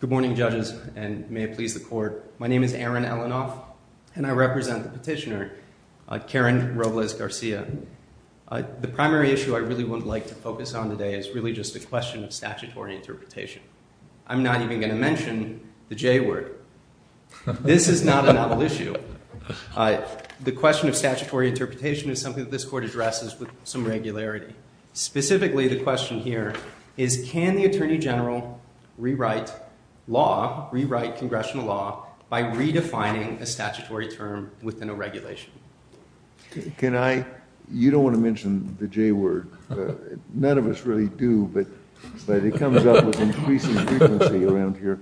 Good morning, judges, and may it please the Court. My name is Aaron Elinoff, and I represent the petitioner, Karen Robles-Garcia. The primary issue I really would like to focus on today is really just a question of statutory interpretation. I'm not even going to mention the J-word. This is not a novel issue. The question of statutory interpretation is something that this Court addresses with some regularity. Specifically, the question here is, can the Attorney General rewrite law, rewrite congressional law, by redefining a statutory term within a regulation? You don't want to mention the J-word. None of us really do, but it comes up with increasing frequency around here.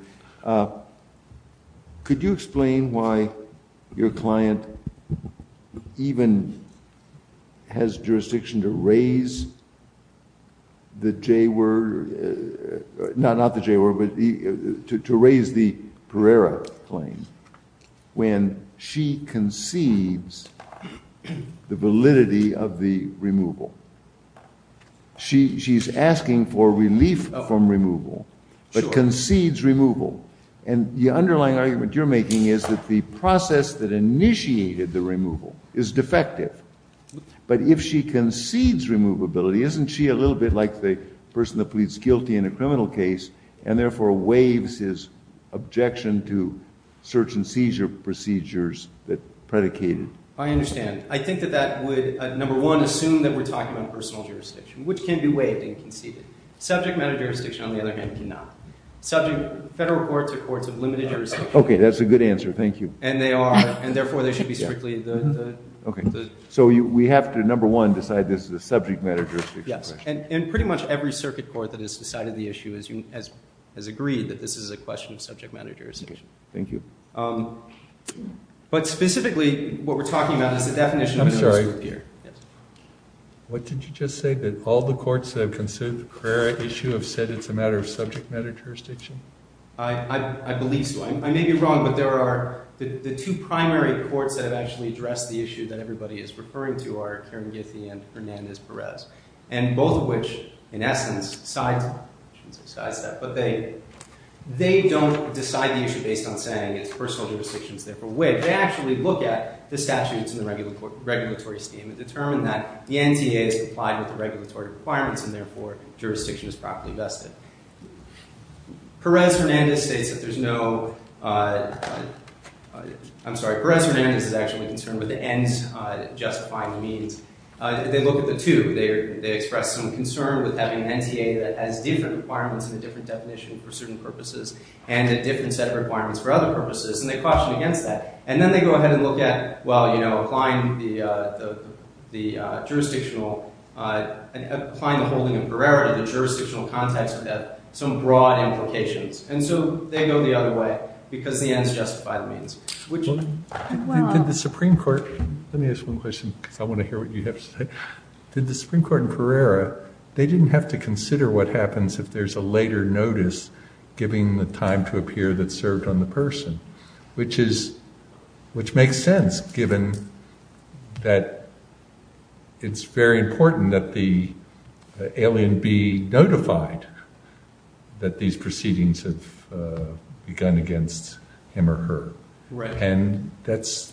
Could you explain why your client even has jurisdiction to raise the J-word? Not the J-word, but to raise the Pereira claim when she concedes the validity of the removal. She's asking for relief from removal, but concedes removal. And the underlying argument you're making is that the process that initiated the removal is defective. But if she concedes removability, isn't she a little bit like the person that pleads guilty in a criminal case and therefore waives his objection to search and seizure procedures that predicated? I understand. I think that that would, number one, assume that we're talking about personal jurisdiction, which can be waived and conceded. Subject matter jurisdiction, on the other hand, cannot. Federal courts are courts of limited jurisdiction. Okay, that's a good answer. Thank you. And they are, and therefore they should be strictly the… Okay, so we have to, number one, decide this is a subject matter jurisdiction question. Yes, and pretty much every circuit court that has decided the issue has agreed that this is a question of subject matter jurisdiction. Okay, thank you. But specifically, what we're talking about is the definition of… I'm sorry. Yes. What did you just say? That all the courts that have considered the Carrera issue have said it's a matter of subject matter jurisdiction? I believe so. I may be wrong, but there are the two primary courts that have actually addressed the issue that everybody is referring to are Kiran Githy and Hernandez-Perez, and both of which, in essence, sidestep. I shouldn't say sidestep, but they don't decide the issue based on saying it's personal jurisdiction, it's therefore waived. They actually look at the statutes in the regulatory scheme and determine that the NTA is complied with the regulatory requirements, and therefore jurisdiction is properly vested. Perez-Hernandez states that there's no… I'm sorry. Perez-Hernandez is actually concerned with the N's justifying the means. They look at the two. They express some concern with having an NTA that has different requirements and a different definition for certain purposes and a different set of requirements for other purposes, and they caution against that. And then they go ahead and look at, well, you know, applying the holding of Carrera to the jurisdictional context would have some broad implications. And so they go the other way because the N's justify the means, which… Let me ask one question because I want to hear what you have to say. Did the Supreme Court in Carrera, they didn't have to consider what happens if there's a later notice giving the time to appear that served on the person, which makes sense given that it's very important that the alien be notified that these proceedings have begun against him or her. Right. And that's…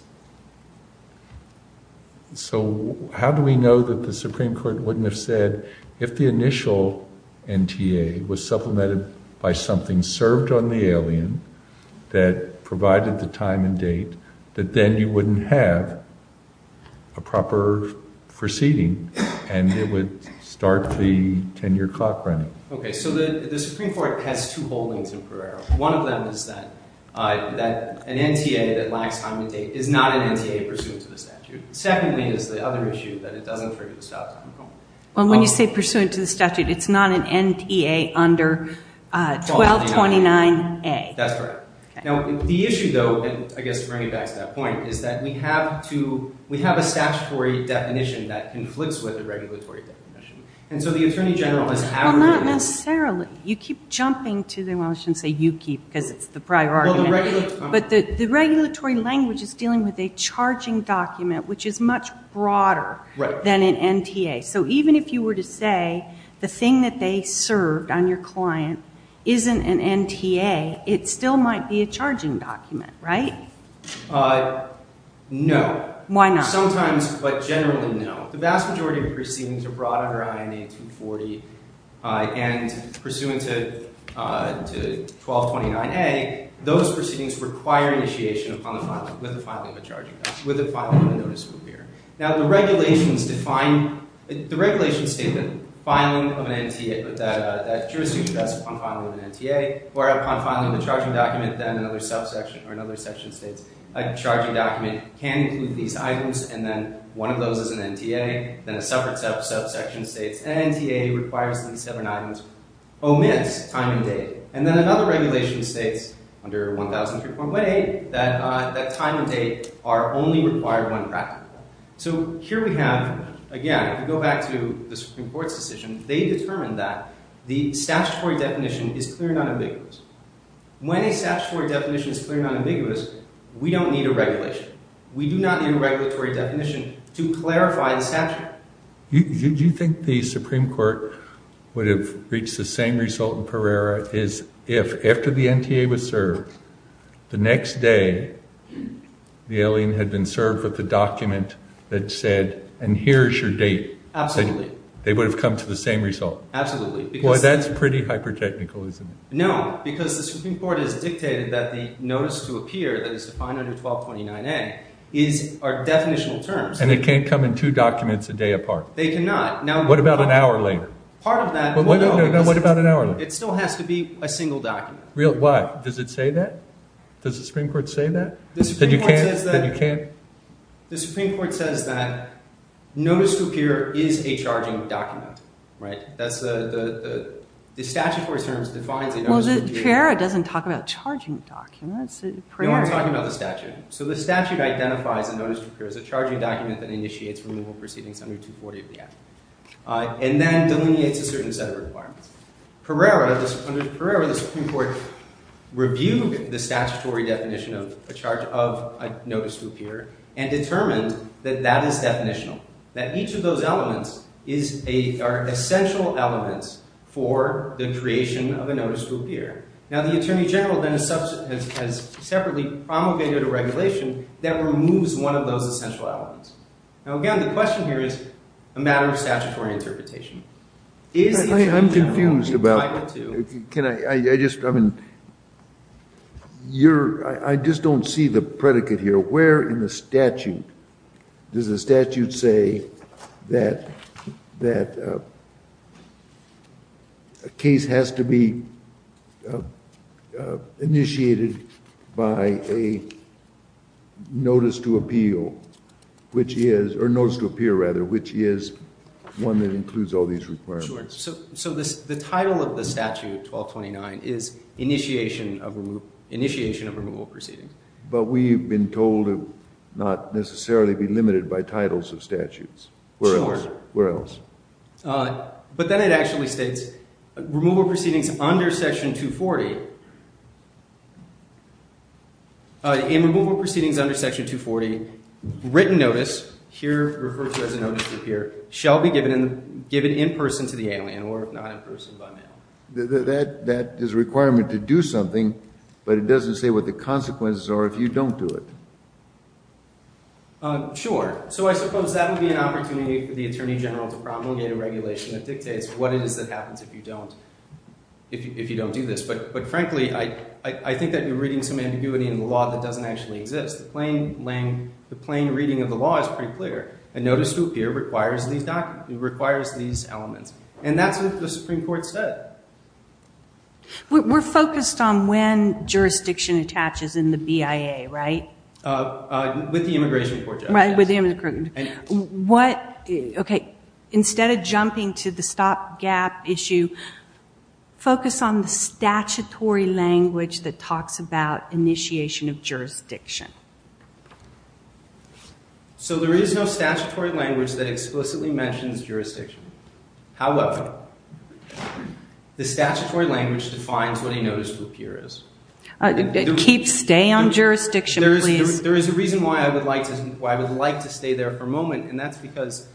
So how do we know that the Supreme Court wouldn't have said if the initial NTA was supplemented by something served on the alien that provided the time and date that then you wouldn't have a proper proceeding and it would start the 10-year clock running? Okay, so the Supreme Court has two holdings in Carrera. One of them is that an NTA that lacks time and date is not an NTA pursuant to the statute. Secondly is the other issue that it doesn't prohibit stop time. Well, when you say pursuant to the statute, it's not an NTA under 1229A. That's correct. Okay. Now, the issue, though, and I guess bringing it back to that point, is that we have a statutory definition that conflicts with the regulatory definition. And so the Attorney General has… Well, not necessarily. You keep jumping to the – well, I shouldn't say you keep because it's the prior argument. But the regulatory language is dealing with a charging document, which is much broader than an NTA. So even if you were to say the thing that they served on your client isn't an NTA, it still might be a charging document, right? No. Why not? Sometimes, but generally, no. The vast majority of proceedings are brought under INA 240. And pursuant to 1229A, those proceedings require initiation upon the filing – with the filing of a charging – with the filing of a notice of appearance. Now, the regulations define – the regulations state that filing of an NTA – that jurisdiction does upon filing of an NTA or upon filing of a charging document. Then another subsection – or another section states a charging document can include these items. And then one of those is an NTA. Then a separate subsection states an NTA requires these seven items omits time and date. And then another regulation states under 1003.8 that time and date are only required when practical. So here we have, again, if you go back to the Supreme Court's decision, they determined that the statutory definition is clearly not ambiguous. When a statutory definition is clearly not ambiguous, we don't need a regulation. We do not need a regulatory definition to clarify the statute. Do you think the Supreme Court would have reached the same result in Pereira as if, after the NTA was served, the next day the alien had been served with a document that said, and here is your date. Absolutely. They would have come to the same result. Absolutely. Well, that's pretty hyper-technical, isn't it? No, because the Supreme Court has dictated that the notice to appear that is defined under 1229A are definitional terms. And it can't come in two documents a day apart. They cannot. What about an hour later? Part of that – No, no, no. What about an hour later? It still has to be a single document. Why? Does it say that? Does the Supreme Court say that? The Supreme Court says that notice to appear is a charging document. The statutory terms defines a notice to appear. Pereira doesn't talk about charging documents. No, I'm talking about the statute. So the statute identifies a notice to appear as a charging document that initiates removal proceedings under 240 of the Act and then delineates a certain set of requirements. Pereira, the Supreme Court, reviewed the statutory definition of a charge of a notice to appear and determined that that is definitional, that each of those elements are essential elements for the creation of a notice to appear. Now, the Attorney General then has separately promulgated a regulation that removes one of those essential elements. Now, again, the question here is a matter of statutory interpretation. I'm confused about – I would, too. Can I – I just – I mean, you're – I just don't see the predicate here. Where in the statute does the statute say that a case has to be initiated by a notice to appeal, which is – or notice to appear, rather, which is one that includes all these requirements? Sure. So the title of the statute, 1229, is initiation of removal proceedings. But we've been told to not necessarily be limited by titles of statutes. Sure. Where else? Where else? But then it actually states, removal proceedings under Section 240 – in removal proceedings under Section 240, written notice, here referred to as a notice to appear, shall be given in person to the alien or not in person by mail. That is a requirement to do something, but it doesn't say what the consequences are if you don't do it. Sure. So I suppose that would be an opportunity for the Attorney General to promulgate a regulation that dictates what it is that happens if you don't – if you don't do this. But, frankly, I think that you're reading some ambiguity in the law that doesn't actually exist. The plain reading of the law is pretty clear. A notice to appear requires these elements. And that's what the Supreme Court said. We're focused on when jurisdiction attaches in the BIA, right? With the immigration court, yes. Right, with the immigration court. What – okay, instead of jumping to the stopgap issue, focus on the statutory language that talks about initiation of jurisdiction. So there is no statutory language that explicitly mentions jurisdiction. However, the statutory language defines what a notice to appear is. Keep – stay on jurisdiction, please. There is a reason why I would like to stay there for a moment, and that's because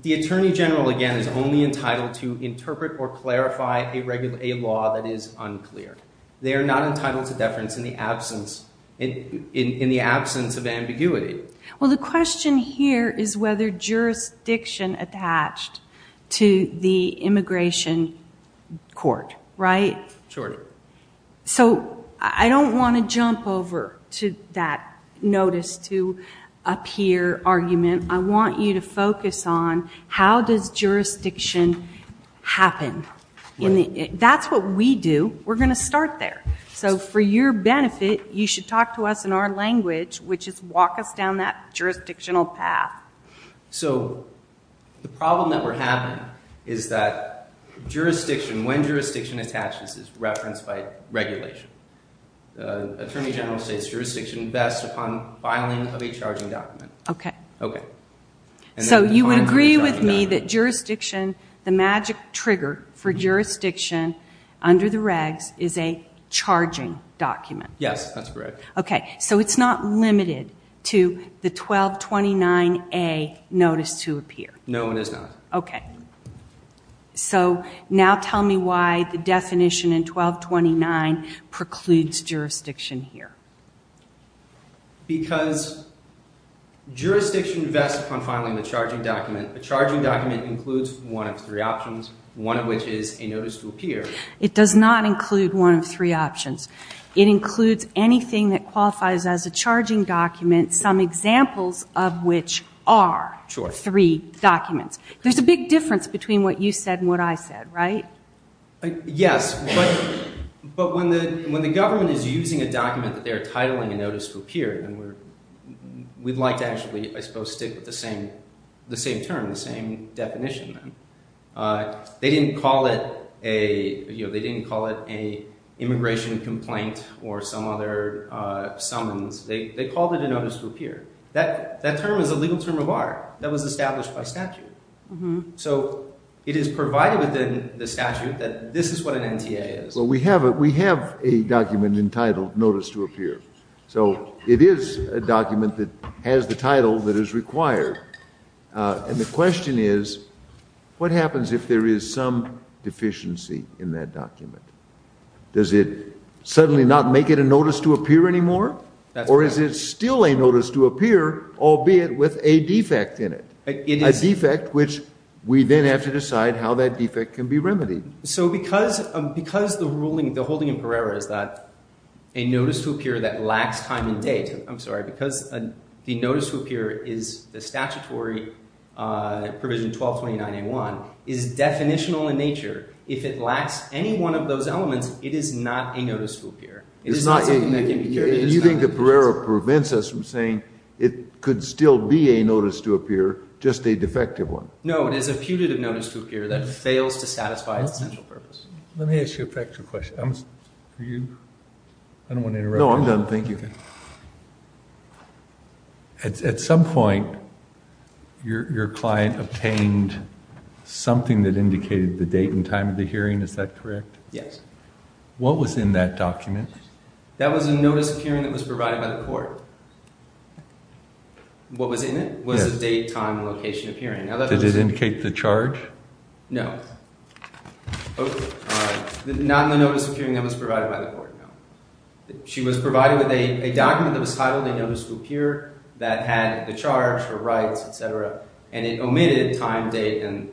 the Attorney General, again, is only entitled to interpret or clarify a law that is unclear. They are not entitled to deference in the absence – in the absence of ambiguity. Well, the question here is whether jurisdiction attached to the immigration court, right? Sure. So I don't want to jump over to that notice to appear argument. I want you to focus on how does jurisdiction happen. That's what we do. We're going to start there. So for your benefit, you should talk to us in our language, which is walk us down that jurisdictional path. So the problem that we're having is that jurisdiction, when jurisdiction attaches, is referenced by regulation. The Attorney General says jurisdiction best upon filing of a charging document. Okay. Okay. So you would agree with me that jurisdiction – the magic trigger for jurisdiction under the regs is a charging document. Yes, that's correct. Okay. So it's not limited to the 1229A notice to appear. No, it is not. Okay. So now tell me why the definition in 1229 precludes jurisdiction here. Because jurisdiction best upon filing the charging document. A charging document includes one of three options, one of which is a notice to appear. It does not include one of three options. It includes anything that qualifies as a charging document, some examples of which are three documents. There's a big difference between what you said and what I said, right? Yes. But when the government is using a document that they are titling a notice to appear, we'd like to actually, I suppose, stick with the same term, the same definition. They didn't call it an immigration complaint or some other summons. They called it a notice to appear. That term is a legal term of art that was established by statute. So it is provided within the statute that this is what an NTA is. Well, we have a document entitled notice to appear. So it is a document that has the title that is required. And the question is, what happens if there is some deficiency in that document? Does it suddenly not make it a notice to appear anymore? That's right. Or is it still a notice to appear, albeit with a defect in it? A defect which we then have to decide how that defect can be remedied. So because the ruling, the holding in Pereira is that a notice to appear that lacks time and date, I'm sorry, because the notice to appear is the statutory provision 1229A1, is definitional in nature. If it lacks any one of those elements, it is not a notice to appear. And you think that Pereira prevents us from saying it could still be a notice to appear, just a defective one? No, it is a putative notice to appear that fails to satisfy its central purpose. Let me ask you a practical question. I don't want to interrupt. No, I'm done. Thank you. At some point, your client obtained something that indicated the date and time of the hearing. Is that correct? Yes. What was in that document? That was a notice of hearing that was provided by the court. What was in it was the date, time, and location of hearing. Did it indicate the charge? No. Not in the notice of hearing that was provided by the court, no. She was provided with a document that was titled a notice to appear that had the charge, her rights, etc., and it omitted time, date, and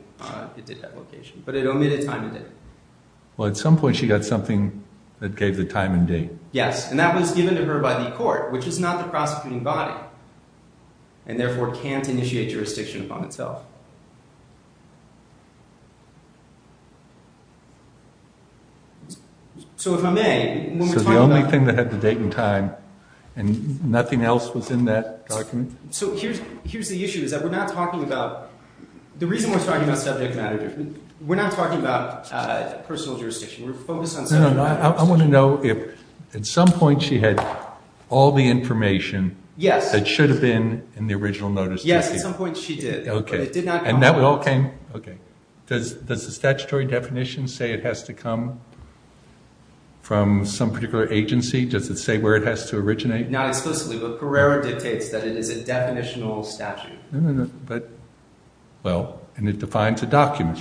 it did have location, but it omitted time and date. Well, at some point she got something that gave the time and date. Yes, and that was given to her by the court, which is not the prosecuting body, and therefore can't initiate jurisdiction upon itself. So if I may, when we're talking about— So the only thing that had the date and time, and nothing else was in that document? So here's the issue, is that we're not talking about—the reason we're talking about subject matter— we're not talking about personal jurisdiction. We're focused on subject matter. I want to know if at some point she had all the information that should have been in the original notice. Yes, at some point she did, but it did not— And that all came—okay. Does the statutory definition say it has to come from some particular agency? Does it say where it has to originate? Not explicitly, but Pereira dictates that it is a definitional statute. Well, and it defines a document,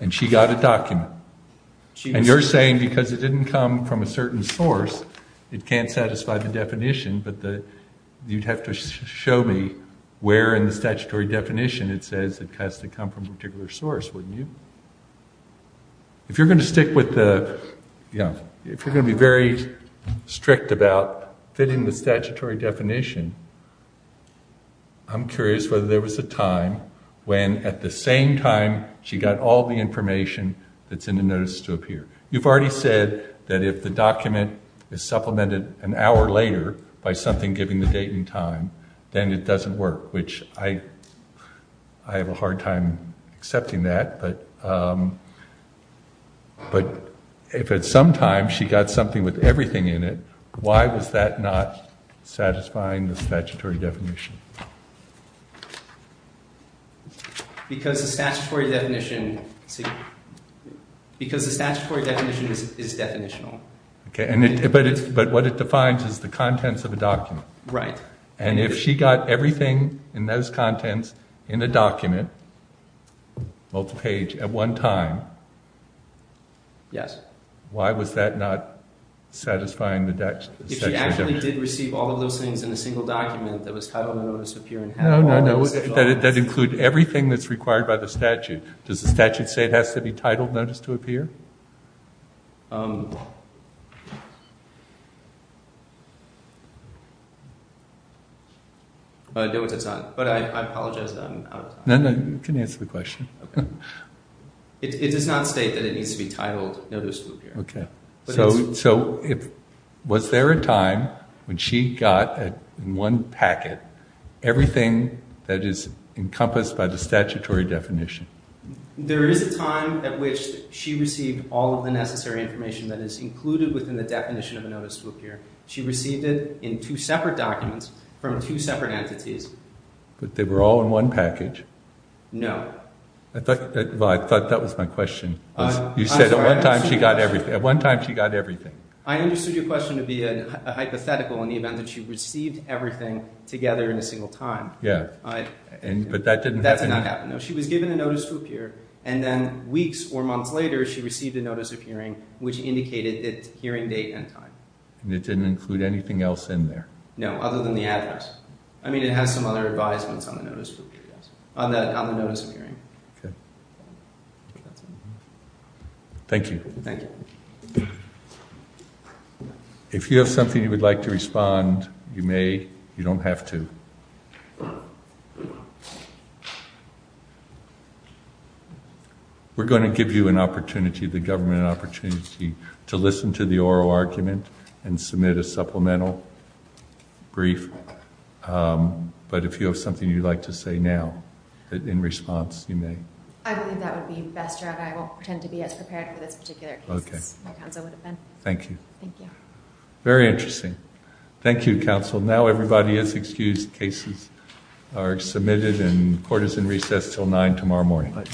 and she got a document. And you're saying because it didn't come from a certain source, it can't satisfy the definition, but you'd have to show me where in the statutory definition it says it has to come from a particular source, wouldn't you? If you're going to stick with the—if you're going to be very strict about fitting the statutory definition, I'm curious whether there was a time when at the same time she got all the information that's in the notice to appear. You've already said that if the document is supplemented an hour later by something giving the date and time, then it doesn't work, which I have a hard time accepting that. But if at some time she got something with everything in it, why was that not satisfying the statutory definition? Because the statutory definition is definitional. Okay, but what it defines is the contents of a document. Right. And if she got everything in those contents in a document, multi-page, at one time— Yes. —why was that not satisfying the statutory definition? If she actually did receive all of those things in a single document that was titled a notice to appear in half an hour— No, no, no. That includes everything that's required by the statute. Does the statute say it has to be titled notice to appear? No, it does not. But I apologize that I'm out of time. No, no. You can answer the question. Okay. It does not state that it needs to be titled notice to appear. Okay. So was there a time when she got in one packet everything that is encompassed by the statutory definition? There is a time at which she received all of the necessary information that is included within the definition of a notice to appear. She received it in two separate documents from two separate entities. But they were all in one package. No. Well, I thought that was my question. You said at one time she got everything. At one time she got everything. I understood your question to be a hypothetical in the event that she received everything together in a single time. Yeah. But that didn't happen? That did not happen. No. She was given a notice to appear, and then weeks or months later she received a notice of hearing which indicated its hearing date and time. And it didn't include anything else in there? No, other than the address. I mean, it has some other advisements on the notice of hearing. Okay. Thank you. Thank you. If you have something you would like to respond, you may. You don't have to. Thank you. We're going to give you an opportunity, the government an opportunity, to listen to the oral argument and submit a supplemental brief. But if you have something you'd like to say now, in response, you may. I believe that would be best, Your Honor. I won't pretend to be as prepared for this particular case as my counsel would have been. Thank you. Thank you. Very interesting. Thank you, counsel. Now everybody is excused. Cases are submitted and court is in recess until 9 tomorrow morning.